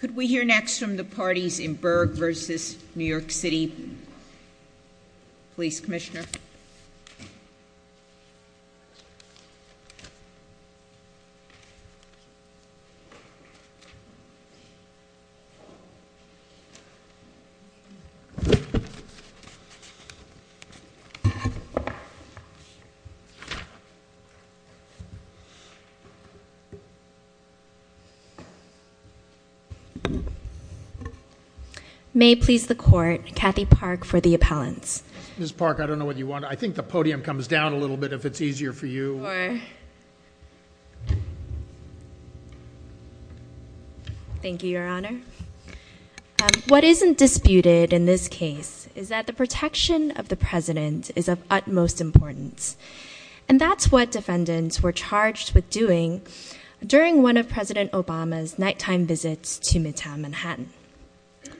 Could we hear next from the parties in Berg v. New York City Police Commissioner? May please the court. Kathy Park for the appellants. Ms. Park, I don't know what you want. I think the podium comes down a little bit if it's easier for you. Thank you, Your Honor. What isn't disputed in this case is that the protection of the President is of utmost importance. And that's what defendants were charged with doing during one of President Obama's nighttime visits to Midtown Manhattan.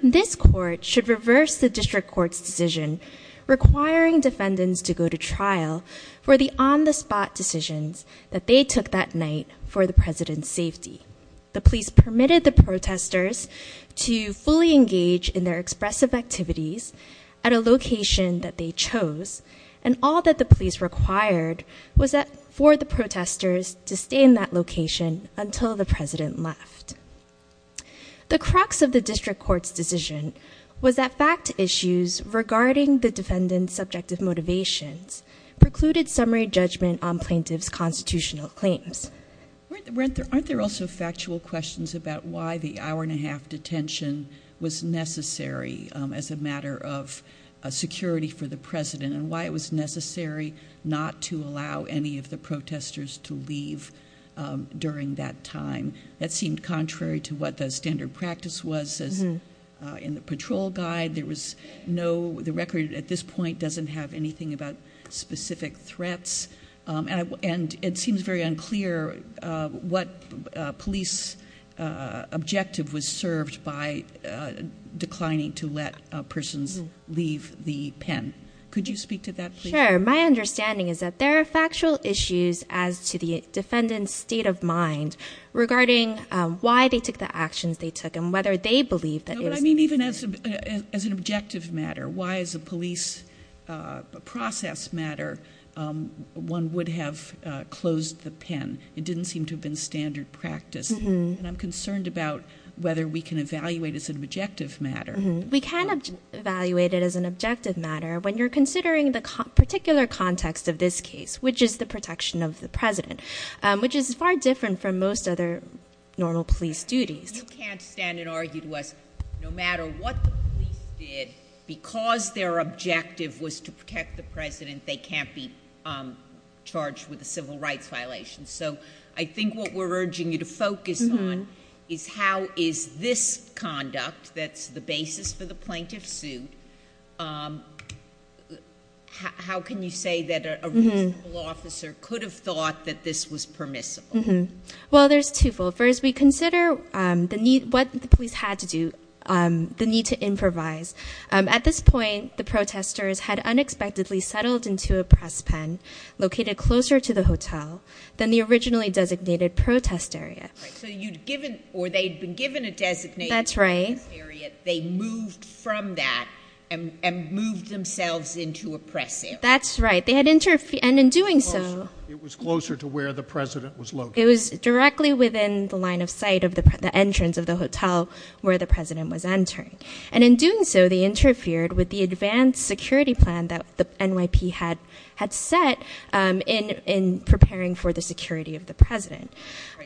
This court should reverse the district court's decision requiring defendants to go to trial for the on-the-spot decisions that they took that night for the President's safety. The police permitted the protesters to fully engage in their expressive activities at a location that they chose. And all that the police required was that for the protesters to stay in that location until the President left. The crux of the district court's decision was that fact issues regarding the defendant's subjective motivations precluded summary judgment on plaintiff's constitutional claims. Aren't there also factual questions about why the hour-and-a-half detention was necessary as a matter of security for the President? And why it was necessary not to allow any of the protesters to leave during that time? That seemed contrary to what the standard practice was in the patrol guide. The record at this point doesn't have anything about specific threats. And it seems very unclear what police objective was served by declining to let persons leave the pen. Could you speak to that, please? Sure. My understanding is that there are factual issues as to the defendant's state of mind regarding why they took the actions they took and whether they believe that- No, but I mean even as an objective matter, why as a police process matter, one would have closed the pen. It didn't seem to have been standard practice. And I'm concerned about whether we can evaluate as an objective matter. We can evaluate it as an objective matter when you're considering the particular context of this case, which is the protection of the President, which is far different from most other normal police duties. You can't stand and argue to us, no matter what the police did, because their objective was to protect the President, they can't be charged with a civil rights violation. So I think what we're urging you to focus on is how is this conduct, that's the basis for the plaintiff's suit, how can you say that a reasonable officer could have thought that this was permissible? Well, there's two fold. First, we consider what the police had to do, the need to improvise. At this point, the protesters had unexpectedly settled into a press pen located closer to the hotel than the originally designated protest area. So you'd given, or they'd been given a designated protest area. That's right. They moved from that and moved themselves into a press area. That's right. They had interfered, and in doing so- It was closer to where the President was located. It was directly within the line of sight of the entrance of the hotel where the President was entering. And in doing so, they interfered with the advanced security plan that the NYP had set in preparing for the security of the President.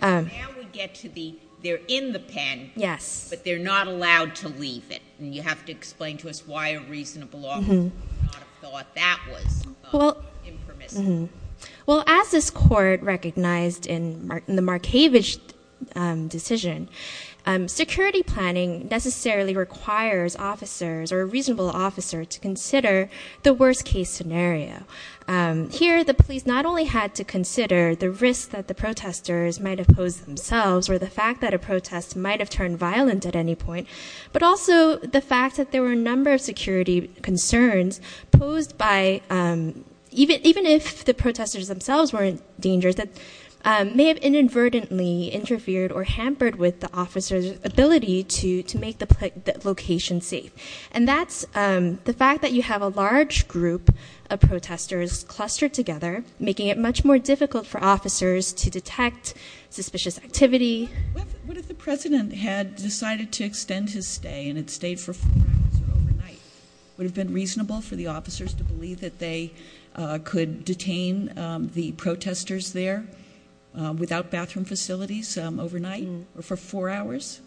Now we get to the, they're in the pen- Yes. But they're not allowed to leave it, and you have to explain to us why a reasonable officer would not have thought that was impermissible. Well, as this court recognized in the Markavich decision, security planning necessarily requires officers, or a reasonable officer, to consider the worst case scenario. Here, the police not only had to consider the risk that the protesters might have posed themselves, or the fact that a protest might have turned violent at any point, but also the fact that there were a number of security concerns posed by, even if the protesters themselves weren't dangerous, that may have inadvertently interfered or hampered with the officer's ability to make the location safe. And that's the fact that you have a large group of protesters clustered together, making it much more difficult for officers to detect suspicious activity. What if the President had decided to extend his stay, and had stayed for four hours, or overnight? Would it have been reasonable for the officers to believe that they could detain the protesters there, without bathroom facilities, overnight, or for four hours?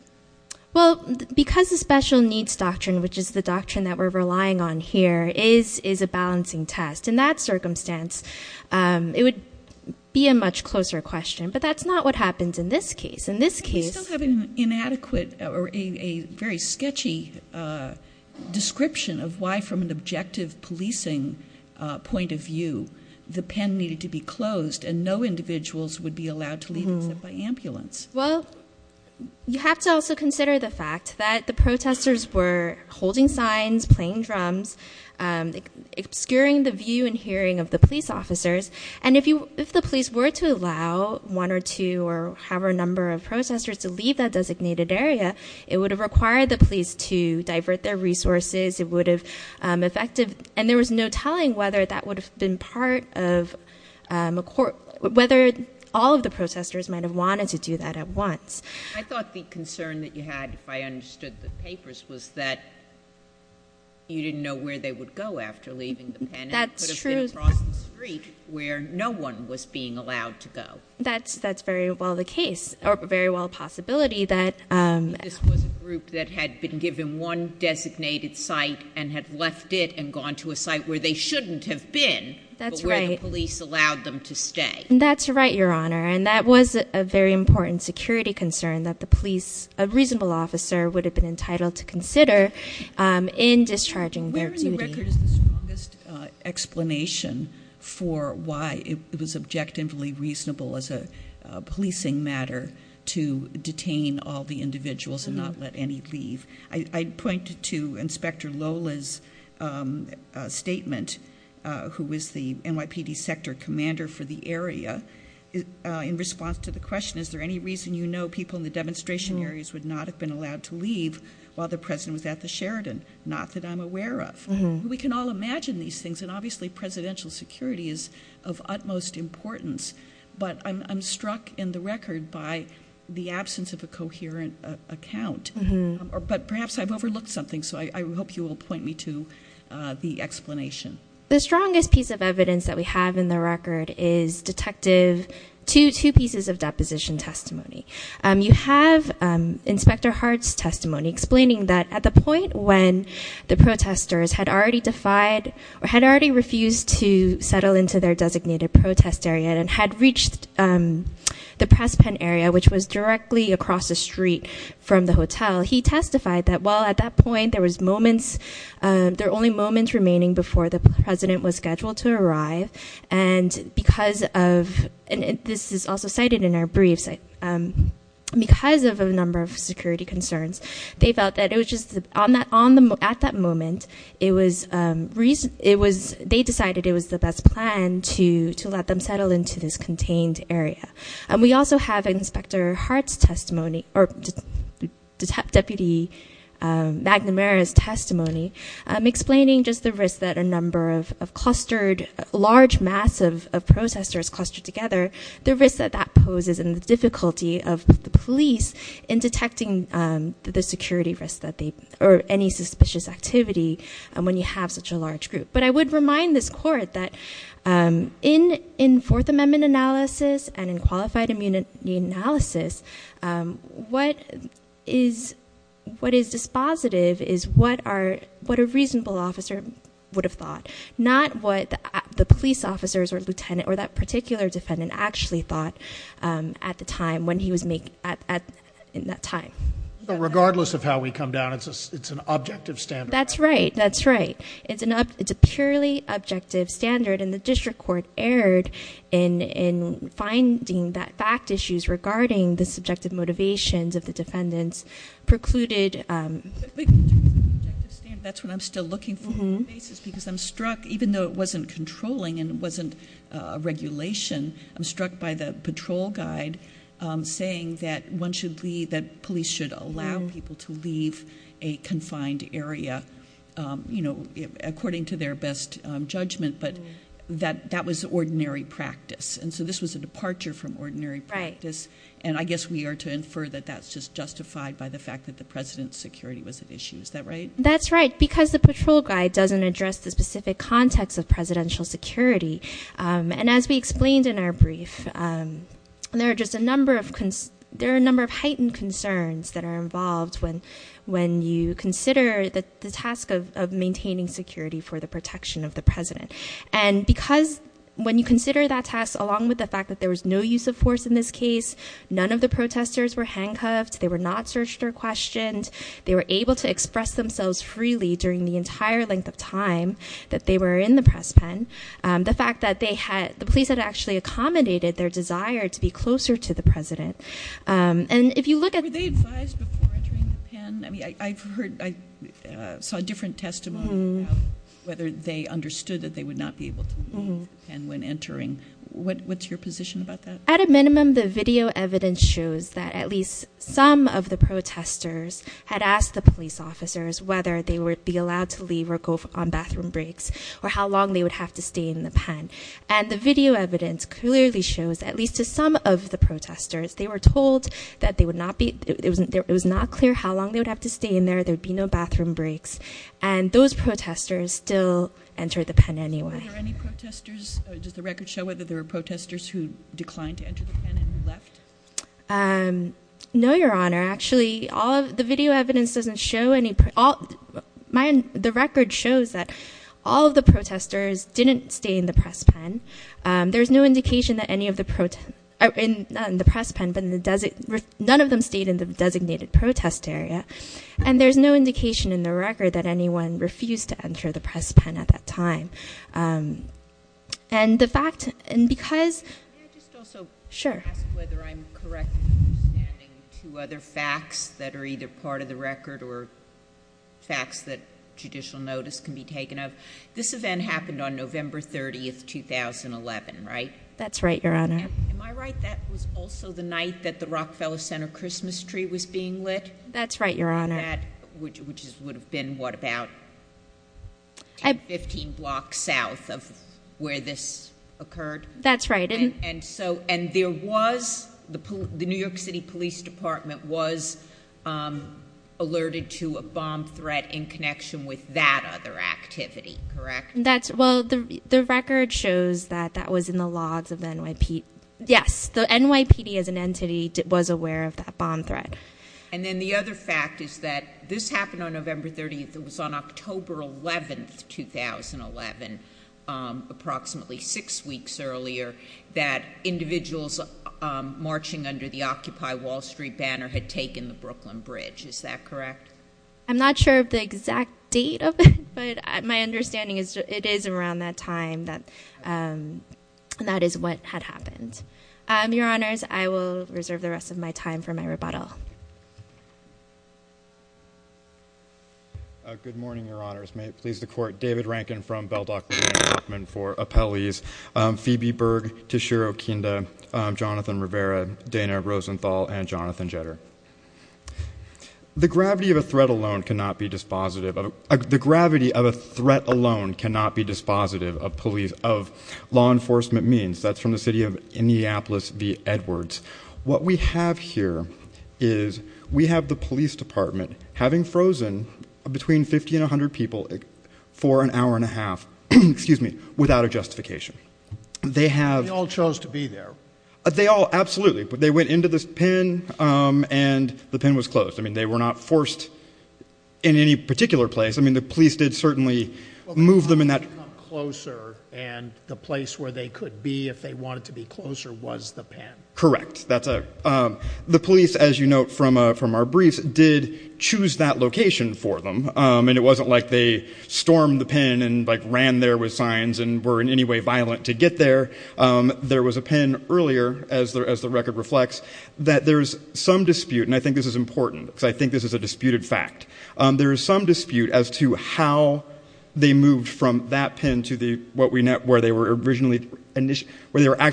Well, because the special needs doctrine, which is the doctrine that we're relying on here, is a balancing test. In that circumstance, it would be a much closer question, but that's not what happens in this case. In this case- You still have an inadequate, or a very sketchy, description of why, from an objective policing point of view, the pen needed to be closed, and no individuals would be allowed to leave except by ambulance. Well, you have to also consider the fact that the protesters were holding signs, playing drums, obscuring the view and hearing of the police officers. And if the police were to allow one, or two, or however number of protesters to leave that designated area, it would have required the police to divert their resources. And there was no telling whether all of the protesters might have wanted to do that at once. I thought the concern that you had, if I understood the papers, was that you didn't know where they would go after leaving the pen. That's true. And it could have been across the street, where no one was being allowed to go. That's very well the case, or very well a possibility that- That's right. That's right, Your Honor. And that was a very important security concern that the police, a reasonable officer, would have been entitled to consider in discharging their duty. Where in the record is the strongest explanation for why it was objectively reasonable as a policing matter to detain all the individuals and not let any leave? I pointed to Inspector Lola's statement, who was the NYPD sector commander for the area, in response to the question, is there any reason you know people in the demonstration areas would not have been allowed to leave while the president was at the Sheridan? Not that I'm aware of. We can all imagine these things, and obviously presidential security is of utmost importance. But I'm struck in the record by the absence of a coherent account. But perhaps I've overlooked something, so I hope you will point me to the explanation. The strongest piece of evidence that we have in the record is detective, two pieces of deposition testimony. You have Inspector Hart's testimony explaining that at the point when the protesters had already defied, or had already refused to settle into their designated protest area and had reached the press pen area, which was directly across the street from the hotel, he testified that while at that point there was moments, there were only moments remaining before the president was scheduled to arrive. And because of, and this is also cited in our briefs, because of a number of security concerns, they felt that it was just, at that moment, it was, they decided it was the best plan to let them settle into this contained area. And we also have Inspector Hart's testimony, or Deputy McNamara's testimony, explaining just the risk that a number of clustered, large mass of protesters clustered together, the risk that that poses and the difficulty of the police in detecting the security risk that they, or any suspicious activity when you have such a large group. But I would remind this court that in Fourth Amendment analysis and in qualified immunity analysis, what is dispositive is what a reasonable officer would have thought, not what the police officers or lieutenant or that particular defendant actually thought at the time when he was in that time. But regardless of how we come down, it's an objective standard. That's right. That's right. It's a purely objective standard. And the district court erred in finding that fact issues regarding the subjective motivations of the defendants precluded. Objective standard, that's what I'm still looking for. Because I'm struck, even though it wasn't controlling and it wasn't a regulation, I'm struck by the patrol guide saying that one should leave, that police should allow people to leave a confined area according to their best judgment. But that was ordinary practice. And so this was a departure from ordinary practice. And I guess we are to infer that that's just justified by the fact that the president's security was at issue. Is that right? That's right. Because the patrol guide doesn't address the specific context of presidential security. And as we explained in our brief, there are a number of heightened concerns that are involved when you consider the task of maintaining security for the protection of the president. And because when you consider that task, along with the fact that there was no use of force in this case, none of the protesters were handcuffed. They were not searched or questioned. They were able to express themselves freely during the entire length of time that they were in the press pen. The fact that the police had actually accommodated their desire to be closer to the president. And if you look at- Were they advised before entering the pen? I saw a different testimony about whether they understood that they would not be able to leave the pen when entering. What's your position about that? At a minimum, the video evidence shows that at least some of the protesters had asked the police officers whether they would be allowed to leave or go on bathroom breaks or how long they would have to stay in the pen. And the video evidence clearly shows, at least to some of the protesters, they were told that it was not clear how long they would have to stay in there. There would be no bathroom breaks. And those protesters still entered the pen anyway. Were there any protesters? Does the record show whether there were protesters who declined to enter the pen and left? No, Your Honor. Actually, the video evidence doesn't show any- The record shows that all of the protesters didn't stay in the press pen. There's no indication that any of the- Not in the press pen, but none of them stayed in the designated protest area. And there's no indication in the record that anyone refused to enter the press pen at that time. And the fact- Can I just also- Sure. Can I ask whether I'm correct in understanding two other facts that are either part of the record or facts that judicial notice can be taken of? This event happened on November 30, 2011, right? That's right, Your Honor. Am I right that was also the night that the Rockefeller Center Christmas tree was being lit? That's right, Your Honor. Which would have been, what, about 15 blocks south of where this occurred? That's right. And so- And there was- The New York City Police Department was alerted to a bomb threat in connection with that other activity, correct? Well, the record shows that that was in the logs of the NYPD. Yes, the NYPD as an entity was aware of that bomb threat. And then the other fact is that this happened on November 30. It was on October 11, 2011, approximately six weeks earlier, that individuals marching under the Occupy Wall Street banner had taken the Brooklyn Bridge. Is that correct? I'm not sure of the exact date of it, but my understanding is it is around that time that that is what had happened. Your Honors, I will reserve the rest of my time for my rebuttal. Good morning, Your Honors. May it please the Court. David Rankin from Beldock Law Enforcement for appellees. Phoebe Berg, Tashir Okinda, Jonathan Rivera, Dana Rosenthal, and Jonathan Jetter. The gravity of a threat alone cannot be dispositive of law enforcement means. That's from the city of Indianapolis v. Edwards. What we have here is we have the police department having frozen between 50 and 100 people for an hour and a half without a justification. They all chose to be there. They all, absolutely. They went into this pen and the pen was closed. I mean, they were not forced in any particular place. I mean, the police did certainly move them in that. Well, they had to come closer, and the place where they could be if they wanted to be closer was the pen. Correct. The police, as you note from our briefs, did choose that location for them. And it wasn't like they stormed the pen and ran there with signs and were in any way violent to get there. There was a pen earlier, as the record reflects, that there is some dispute, and I think this is important because I think this is a disputed fact. There is some dispute as to how they moved from that pen to where they were originally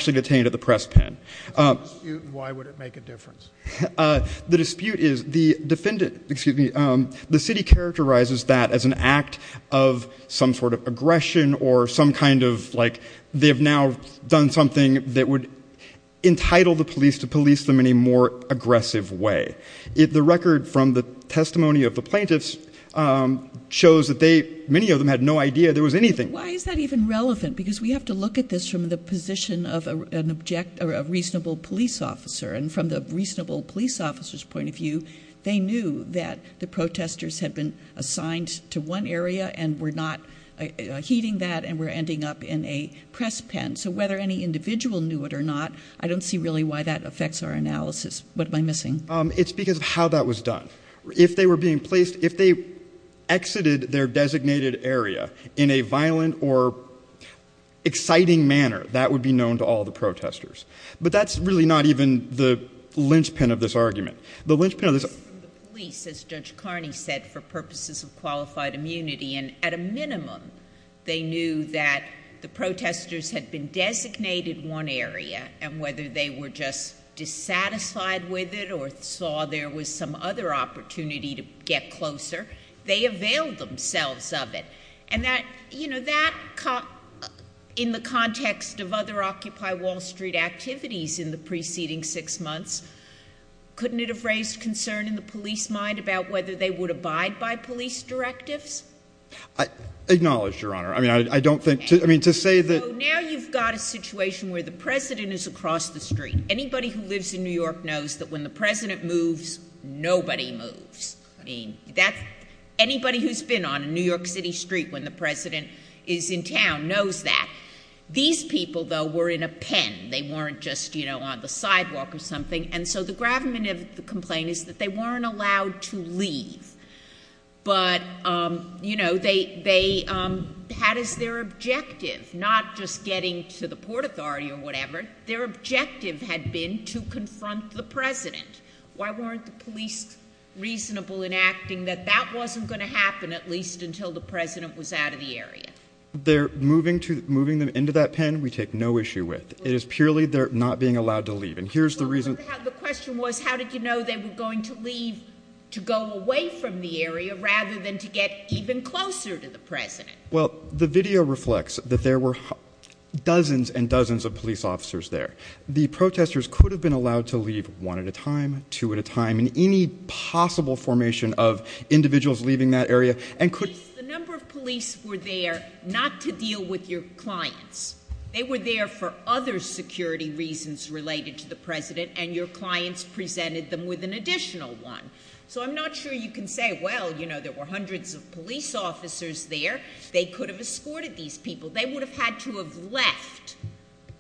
detained at the press pen. Why would it make a difference? The dispute is the defendant, excuse me, the city characterizes that as an act of some sort of aggression or some kind of like they have now done something that would entitle the police to police them in a more aggressive way. The record from the testimony of the plaintiffs shows that they, many of them, had no idea there was anything. Why is that even relevant? Because we have to look at this from the position of a reasonable police officer. And from the reasonable police officer's point of view, they knew that the protesters had been assigned to one area and were not heeding that and were ending up in a press pen. So whether any individual knew it or not, I don't see really why that affects our analysis. What am I missing? It's because of how that was done. If they were being placed, if they exited their designated area in a violent or exciting manner, that would be known to all the protesters. But that's really not even the linchpin of this argument. The linchpin of this argument... It's from the police, as Judge Carney said, for purposes of qualified immunity. And at a minimum, they knew that the protesters had been designated one area and whether they were just dissatisfied with it or saw there was some other opportunity to get closer, they availed themselves of it. And that, you know, that, in the context of other Occupy Wall Street activities in the preceding six months, couldn't it have raised concern in the police mind about whether they would abide by police directives? I acknowledge, Your Honor. I mean, I don't think... I mean, to say that... Anybody who lives in New York knows that when the president moves, nobody moves. I mean, that's... Anybody who's been on a New York City street when the president is in town knows that. These people, though, were in a pen. They weren't just, you know, on the sidewalk or something. And so the gravamen of the complaint is that they weren't allowed to leave. But, you know, they had as their objective, not just getting to the Port Authority or whatever, their objective had been to confront the president. Why weren't the police reasonable in acting that that wasn't going to happen, at least until the president was out of the area? They're moving them into that pen we take no issue with. It is purely they're not being allowed to leave. And here's the reason... The question was, how did you know they were going to leave to go away from the area rather than to get even closer to the president? Well, the video reflects that there were dozens and dozens of police officers there. The protesters could have been allowed to leave one at a time, two at a time, and any possible formation of individuals leaving that area and could... The number of police were there not to deal with your clients. They were there for other security reasons related to the president, and your clients presented them with an additional one. So I'm not sure you can say, well, you know, there were hundreds of police officers there. They could have escorted these people. They would have had to have left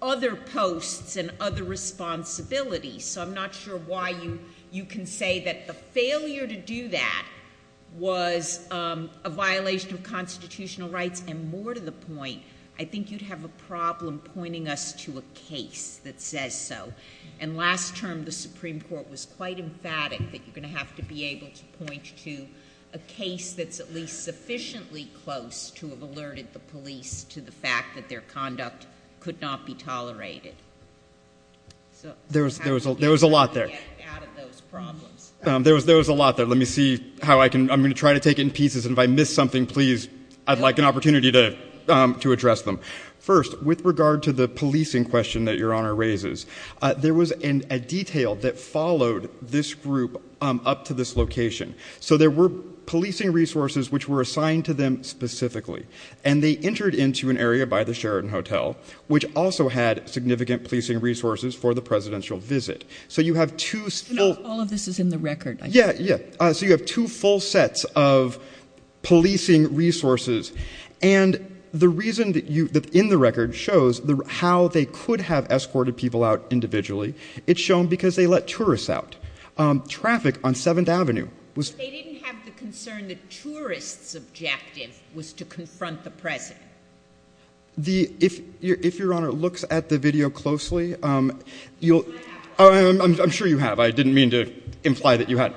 other posts and other responsibilities. So I'm not sure why you can say that the failure to do that was a violation of constitutional rights. And more to the point, I think you'd have a problem pointing us to a case that says so. And last term, the Supreme Court was quite emphatic that you're going to have to be able to point to a case that's at least sufficiently close to have alerted the police to the fact that their conduct could not be tolerated. There was a lot there. There was a lot there. Let me see how I can. I'm going to try to take it in pieces, and if I miss something, please, I'd like an opportunity to address them. First, with regard to the policing question that Your Honor raises, there was a detail that followed this group up to this location. So there were policing resources which were assigned to them specifically, and they entered into an area by the Sheraton Hotel, which also had significant policing resources for the presidential visit. So you have two full sets of policing resources. And the reason that in the record shows how they could have escorted people out individually, it's shown because they let tourists out. Traffic on 7th Avenue was- They didn't have the concern that tourists' objective was to confront the president. If Your Honor looks at the video closely, you'll- I have. I'm sure you have. I didn't mean to imply that you had.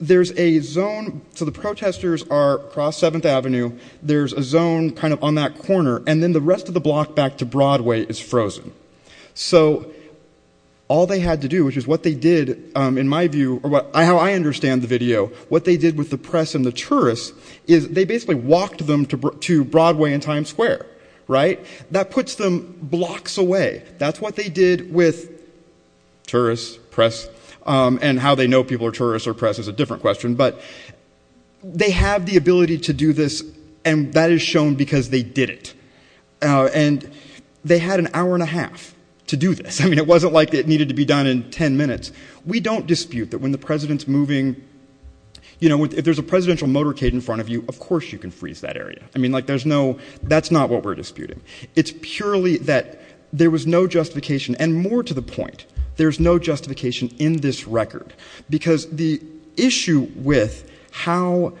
There's a zone- So the protesters are across 7th Avenue. There's a zone kind of on that corner, and then the rest of the block back to Broadway is frozen. So all they had to do, which is what they did, in my view, or how I understand the video, what they did with the press and the tourists is they basically walked them to Broadway and Times Square, right? That puts them blocks away. That's what they did with tourists, press, and how they know people are tourists or press is a different question. But they have the ability to do this, and that is shown because they did it. And they had an hour and a half to do this. I mean, it wasn't like it needed to be done in ten minutes. We don't dispute that when the president's moving- You know, if there's a presidential motorcade in front of you, of course you can freeze that area. I mean, like, there's no- That's not what we're disputing. It's purely that there was no justification, and more to the point, there's no justification in this record. Because the issue with how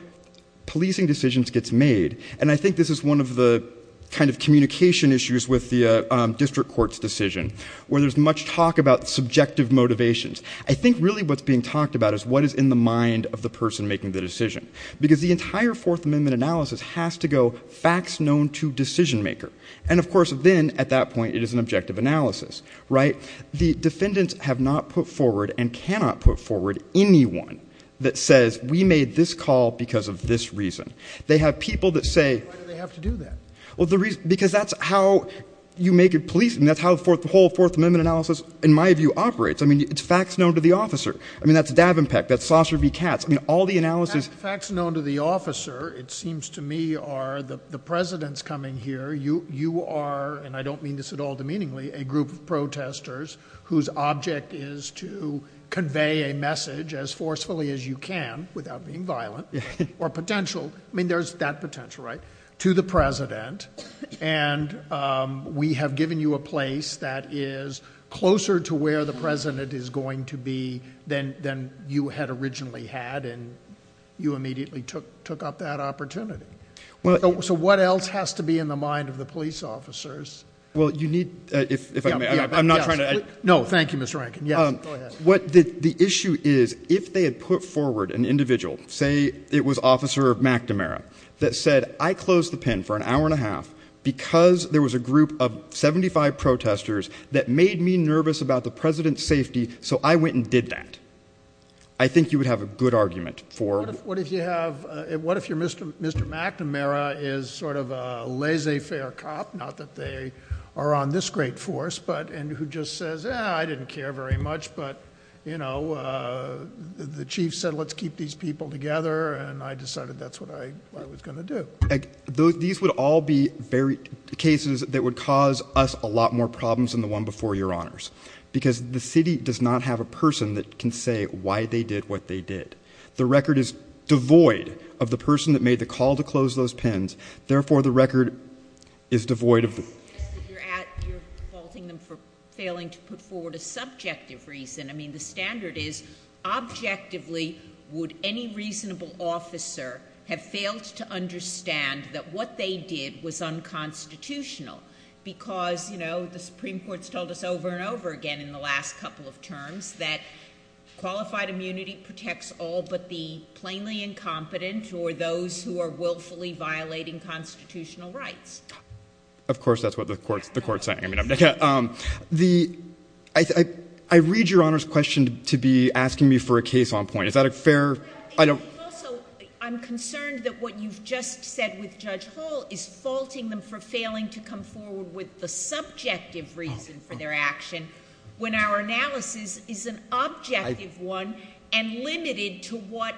policing decisions gets made, and I think this is one of the kind of communication issues with the district court's decision, where there's much talk about subjective motivations. I think really what's being talked about is what is in the mind of the person making the decision. Because the entire Fourth Amendment analysis has to go facts known to decision-maker. And, of course, then, at that point, it is an objective analysis, right? The defendants have not put forward and cannot put forward anyone that says, we made this call because of this reason. They have people that say- Why do they have to do that? Well, because that's how you make it policing. That's how the whole Fourth Amendment analysis, in my view, operates. I mean, it's facts known to the officer. I mean, that's Davenpeck. That's Saucer v. Katz. I mean, all the analysis- Facts known to the officer, it seems to me, are the president's coming here. You are, and I don't mean this at all demeaningly, a group of protesters whose object is to convey a message as forcefully as you can, without being violent, or potential. I mean, there's that potential, right? To the president. And we have given you a place that is closer to where the president is going to be than you had originally had, and you immediately took up that opportunity. So what else has to be in the mind of the police officers? Well, you need- I'm not trying to- No, thank you, Mr. Rankin. Go ahead. The issue is, if they had put forward an individual, say it was Officer McNamara, that said, I closed the pen for an hour and a half because there was a group of 75 protesters that made me nervous about the president's safety, so I went and did that. I think you would have a good argument for- What if you have- What if you're Mr. McNamara is sort of a laissez-faire cop, not that they are on this great force, but- and who just says, eh, I didn't care very much, but, you know, the chief said, let's keep these people together, and I decided that's what I was going to do. These would all be cases that would cause us a lot more problems than the one before your honors, because the city does not have a person that can say why they did what they did. The record is devoid of the person that made the call to close those pens. Therefore, the record is devoid of- You're faulting them for failing to put forward a subjective reason. I mean, the standard is, objectively, would any reasonable officer have failed to understand that what they did was unconstitutional because, you know, the Supreme Court's told us over and over again in the last couple of terms that qualified immunity protects all but the plainly incompetent or those who are willfully violating constitutional rights. Of course, that's what the court's saying. I read your honor's question to be asking me for a case on point. Is that a fair- Also, I'm concerned that what you've just said with Judge Hall is faulting them for failing to come forward with the subjective reason for their action when our analysis is an objective one and limited to what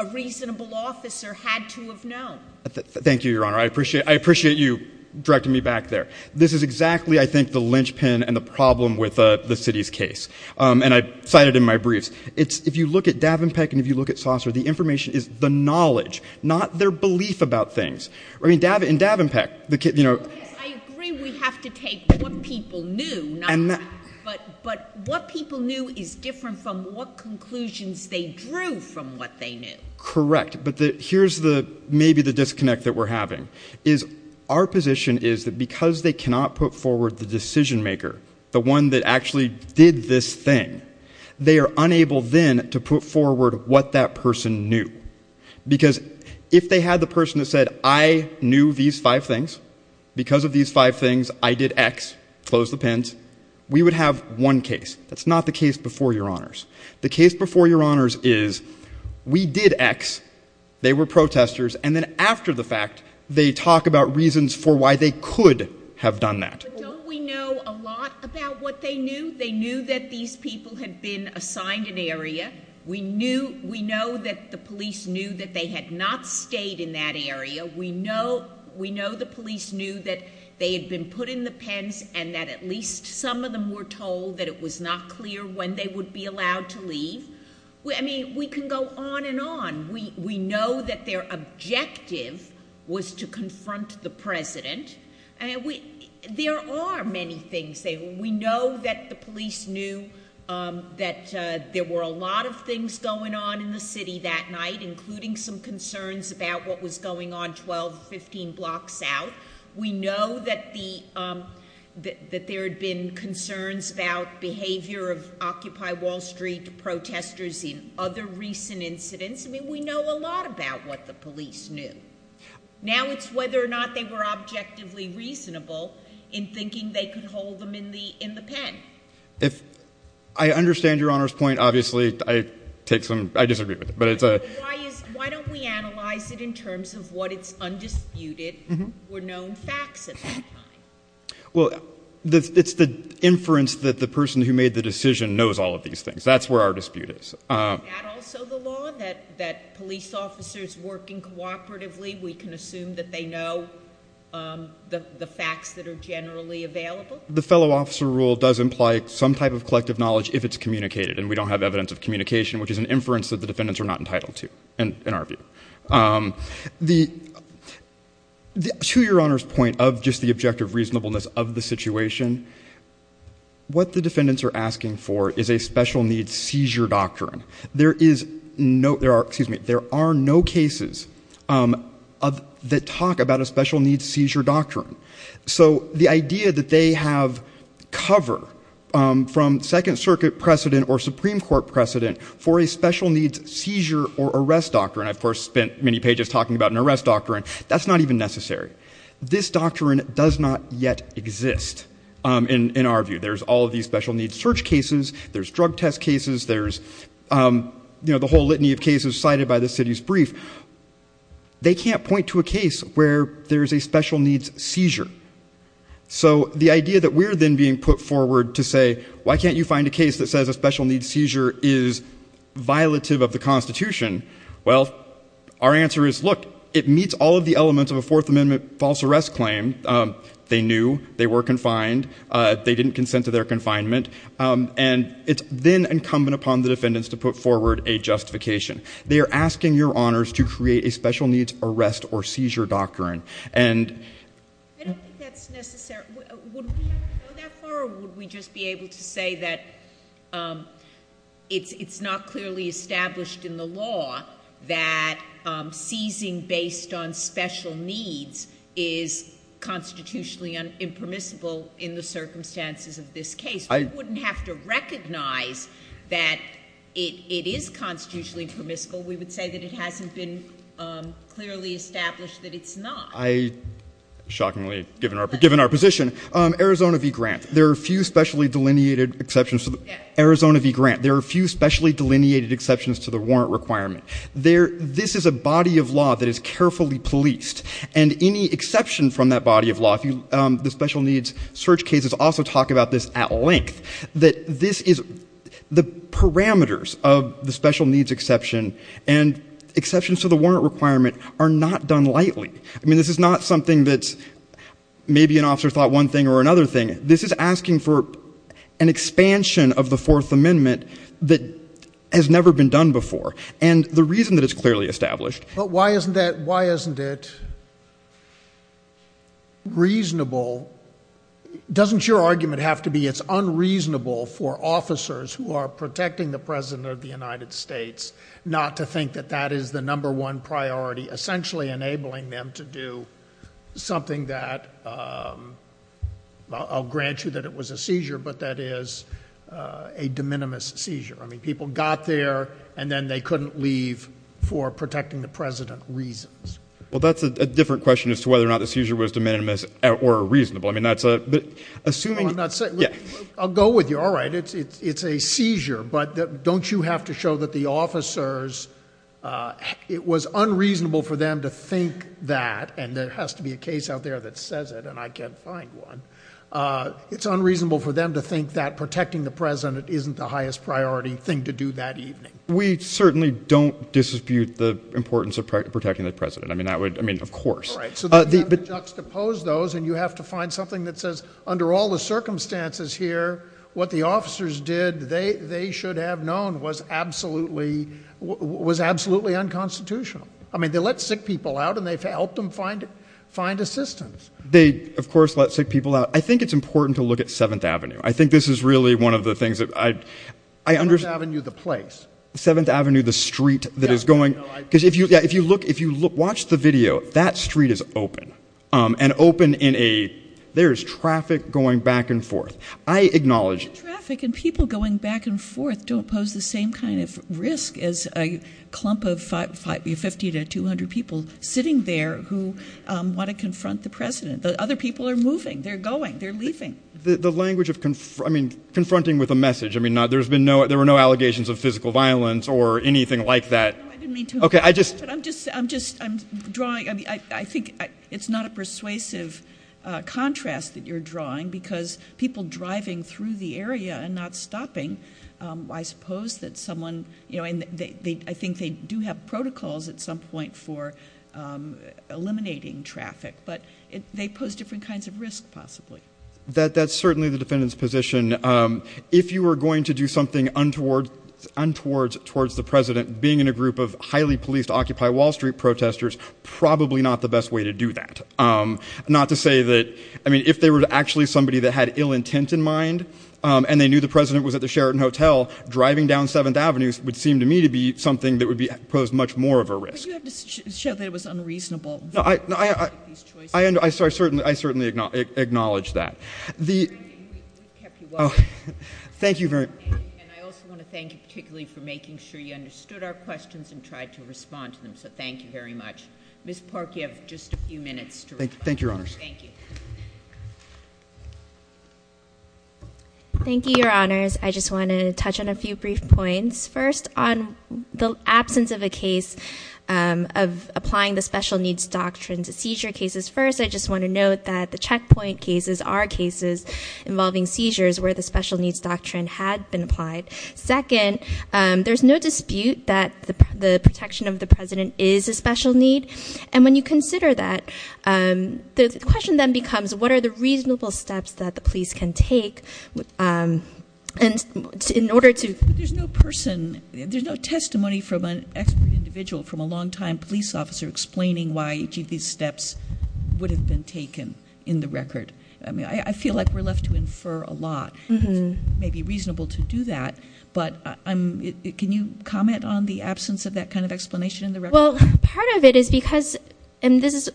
a reasonable officer had to have known. Thank you, your honor. I appreciate you directing me back there. This is exactly, I think, the linchpin and the problem with the city's case, and I cite it in my briefs. If you look at Davenpeck and if you look at Saucer, the information is the knowledge, not their belief about things. I mean, in Davenpeck- I agree we have to take what people knew, but what people knew is different from what conclusions they drew from what they knew. Correct, but here's maybe the disconnect that we're having. Our position is that because they cannot put forward the decision maker, the one that actually did this thing, they are unable then to put forward what that person knew. Because if they had the person that said, I knew these five things, because of these five things I did X, close the pens, we would have one case. That's not the case before your honors. The case before your honors is we did X, they were protesters, and then after the fact, they talk about reasons for why they could have done that. Don't we know a lot about what they knew? They knew that these people had been assigned an area. We know that the police knew that they had not stayed in that area. We know the police knew that they had been put in the pens and that at least some of them were told that it was not clear when they would be allowed to leave. I mean, we can go on and on. We know that their objective was to confront the president. There are many things. We know that the police knew that there were a lot of things going on in the city that night, including some concerns about what was going on 12, 15 blocks out. We know that there had been concerns about behavior of Occupy Wall Street protesters in other recent incidents. I mean, we know a lot about what the police knew. Now it's whether or not they were objectively reasonable in thinking they could hold them in the pen. I understand your honors' point. Obviously, I disagree with it. Why don't we analyze it in terms of what is undisputed or known facts at that time? Well, it's the inference that the person who made the decision knows all of these things. That's where our dispute is. Is that also the law, that police officers working cooperatively, we can assume that they know the facts that are generally available? The fellow officer rule does imply some type of collective knowledge if it's communicated, and we don't have evidence of communication, which is an inference that the defendants are not entitled to in our view. To your honors' point of just the objective reasonableness of the situation, what the defendants are asking for is a special-needs seizure doctrine. There are no cases that talk about a special-needs seizure doctrine. So the idea that they have cover from Second Circuit precedent or Supreme Court precedent for a special-needs seizure or arrest doctrine, I, of course, spent many pages talking about an arrest doctrine, that's not even necessary. This doctrine does not yet exist in our view. There's all of these special-needs search cases. There's drug test cases. There's the whole litany of cases cited by the city's brief. They can't point to a case where there's a special-needs seizure. So the idea that we're then being put forward to say, why can't you find a case that says a special-needs seizure is violative of the Constitution? Well, our answer is, look, it meets all of the elements of a Fourth Amendment false arrest claim. They knew. They were confined. They didn't consent to their confinement. And it's then incumbent upon the defendants to put forward a justification. They are asking your honors to create a special-needs arrest or seizure doctrine. I don't think that's necessary. Would we have to go that far, or would we just be able to say that it's not clearly established in the law that seizing based on special needs is constitutionally impermissible in the circumstances of this case? We wouldn't have to recognize that it is constitutionally impermissible. We would say that it hasn't been clearly established that it's not. I, shockingly, given our position, Arizona v. Grant, there are a few specially delineated exceptions to the warrant requirement. This is a body of law that is carefully policed, and any exception from that body of law, the special-needs search cases also talk about this at length, that this is the parameters of the special-needs exception, and exceptions to the warrant requirement are not done lightly. I mean, this is not something that maybe an officer thought one thing or another thing. This is asking for an expansion of the Fourth Amendment that has never been done before, and the reason that it's clearly established. But why isn't it reasonable? Doesn't your argument have to be it's unreasonable for officers who are protecting the President of the United States not to think that that is the number one priority, essentially enabling them to do something that, I'll grant you that it was a seizure, but that is a de minimis seizure. I mean, people got there, and then they couldn't leave for protecting the President reasons. Well, that's a different question as to whether or not the seizure was de minimis or reasonable. I mean, that's a – but assuming – No, I'm not – I'll go with you. All right. It's a seizure, but don't you have to show that the officers – it was unreasonable for them to think that, and there has to be a case out there that says it, and I can't find one. It's unreasonable for them to think that protecting the President isn't the highest priority thing to do that evening. We certainly don't dispute the importance of protecting the President. I mean, that would – I mean, of course. All right, so then you have to juxtapose those, and you have to find something that says, under all the circumstances here, what the officers did, they should have known, was absolutely unconstitutional. I mean, they let sick people out, and they helped them find assistance. They, of course, let sick people out. I think it's important to look at Seventh Avenue. I think this is really one of the things that I – Seventh Avenue, the place. Seventh Avenue, the street that is going – because if you – yeah, if you look – if you watch the video, that street is open, and open in a – there is traffic going back and forth. I acknowledge – There's traffic, and people going back and forth don't pose the same kind of risk as a clump of 50 to 200 people sitting there who want to confront the President. Other people are moving. They're going. They're leaving. The language of – I mean, confronting with a message. I mean, there's been no – there were no allegations of physical violence or anything like that. No, I didn't mean to – Okay, I just – I'm just – I'm drawing – I think it's not a persuasive contrast that you're drawing because people driving through the area and not stopping, I suppose that someone – I think they do have protocols at some point for eliminating traffic, but they pose different kinds of risk, possibly. That's certainly the defendant's position. If you were going to do something untoward towards the President, being in a group of highly policed Occupy Wall Street protesters, probably not the best way to do that. Not to say that – I mean, if they were actually somebody that had ill intent in mind, and they knew the President was at the Sheraton Hotel, driving down 7th Avenue would seem to me to be something that would pose much more of a risk. But you have to show that it was unreasonable. No, I – I certainly acknowledge that. We've kept you welcome. Thank you very – And I also want to thank you particularly for making sure you understood our questions and tried to respond to them, so thank you very much. Ms. Park, you have just a few minutes to respond. Thank you, Your Honors. Thank you. Thank you, Your Honors. I just want to touch on a few brief points. First, on the absence of a case of applying the special needs doctrine to seizure cases, first, I just want to note that the checkpoint cases are cases involving seizures where the special needs doctrine had been applied. Second, there's no dispute that the protection of the President is a special need. And when you consider that, the question then becomes, what are the reasonable steps that the police can take in order to – There's no person – there's no testimony from an expert individual, from a long-time police officer explaining why each of these steps would have been taken in the record. I mean, I feel like we're left to infer a lot. It may be reasonable to do that, but can you comment on the absence of that kind of explanation in the record? Well, part of it is because – and this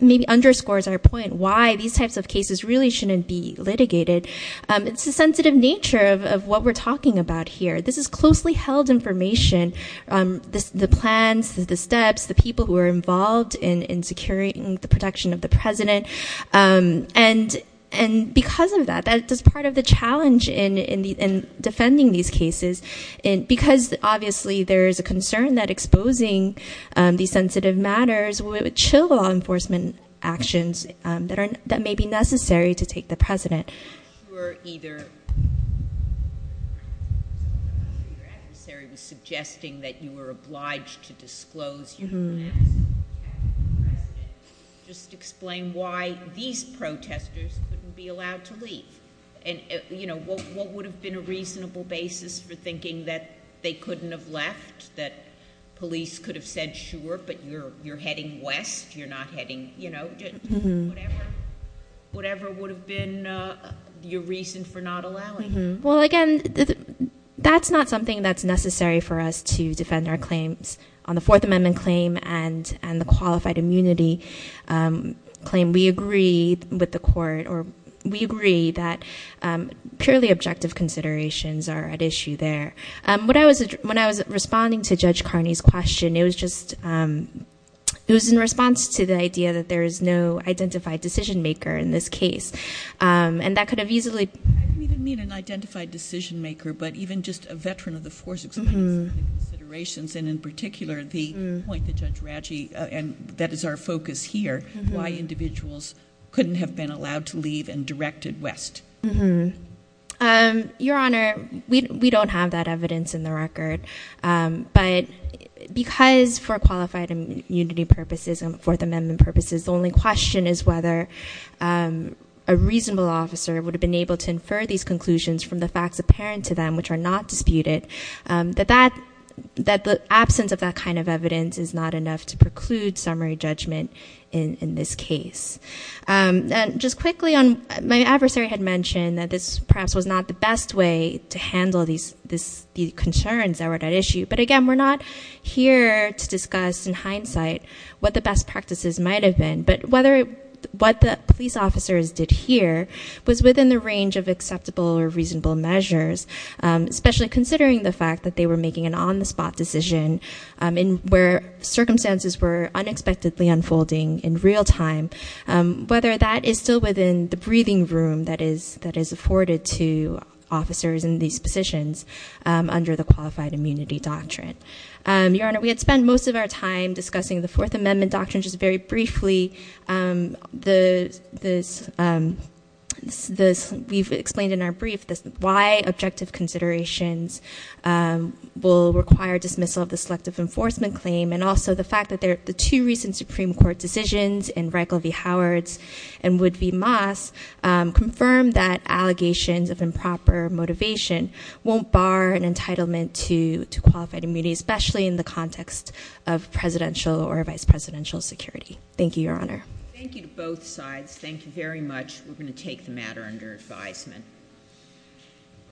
maybe underscores our point why these types of cases really shouldn't be litigated. It's the sensitive nature of what we're talking about here. This is closely held information. The plans, the steps, the people who are involved in securing the protection of the President. And because of that, that is part of the challenge in defending these cases. Because, obviously, there is a concern that exposing these sensitive matters would chill law enforcement actions that may be necessary to take the President. I'm not sure either – I'm not sure your adversary was suggesting that you were obliged to disclose your plans. You haven't asked the President to just explain why these protesters couldn't be allowed to leave. And what would have been a reasonable basis for thinking that they couldn't have left, that police could have said, sure, but you're heading west, you're not heading – whatever would have been your reason for not allowing them. Well, again, that's not something that's necessary for us to defend our claims. On the Fourth Amendment claim and the qualified immunity claim, we agree with the court or we agree that purely objective considerations are at issue there. When I was responding to Judge Carney's question, it was just – it was in response to the idea that there is no identified decision-maker in this case. And that could have easily – I didn't mean an identified decision-maker, but even just a veteran of the force explains the considerations and, in particular, the point that Judge Ratchey – and that is our focus here, why individuals couldn't have been allowed to leave and directed west. Your Honor, we don't have that evidence in the record. But because for qualified immunity purposes and Fourth Amendment purposes, the only question is whether a reasonable officer would have been able to infer these conclusions from the facts apparent to them, which are not disputed, that the absence of that kind of evidence is not enough to preclude summary judgment in this case. And just quickly, my adversary had mentioned that this perhaps was not the best way to handle these concerns that were at issue. But, again, we're not here to discuss in hindsight what the best practices might have been. But whether what the police officers did here was within the range of acceptable or reasonable measures, especially considering the fact that they were making an on-the-spot decision where circumstances were unexpectedly unfolding in real time, whether that is still within the breathing room that is afforded to officers in these positions under the qualified immunity doctrine. Your Honor, we had spent most of our time discussing the Fourth Amendment doctrine. Just very briefly, we've explained in our brief why objective considerations will require dismissal of the selective enforcement claim and also the fact that the two recent Supreme Court decisions in Reichel v. Howard's and Wood v. Moss confirmed that allegations of improper motivation won't bar an entitlement to qualified immunity, especially in the context of presidential or vice presidential security. Thank you, Your Honor. Thank you to both sides. Thank you very much. We're going to take the matter under advisement.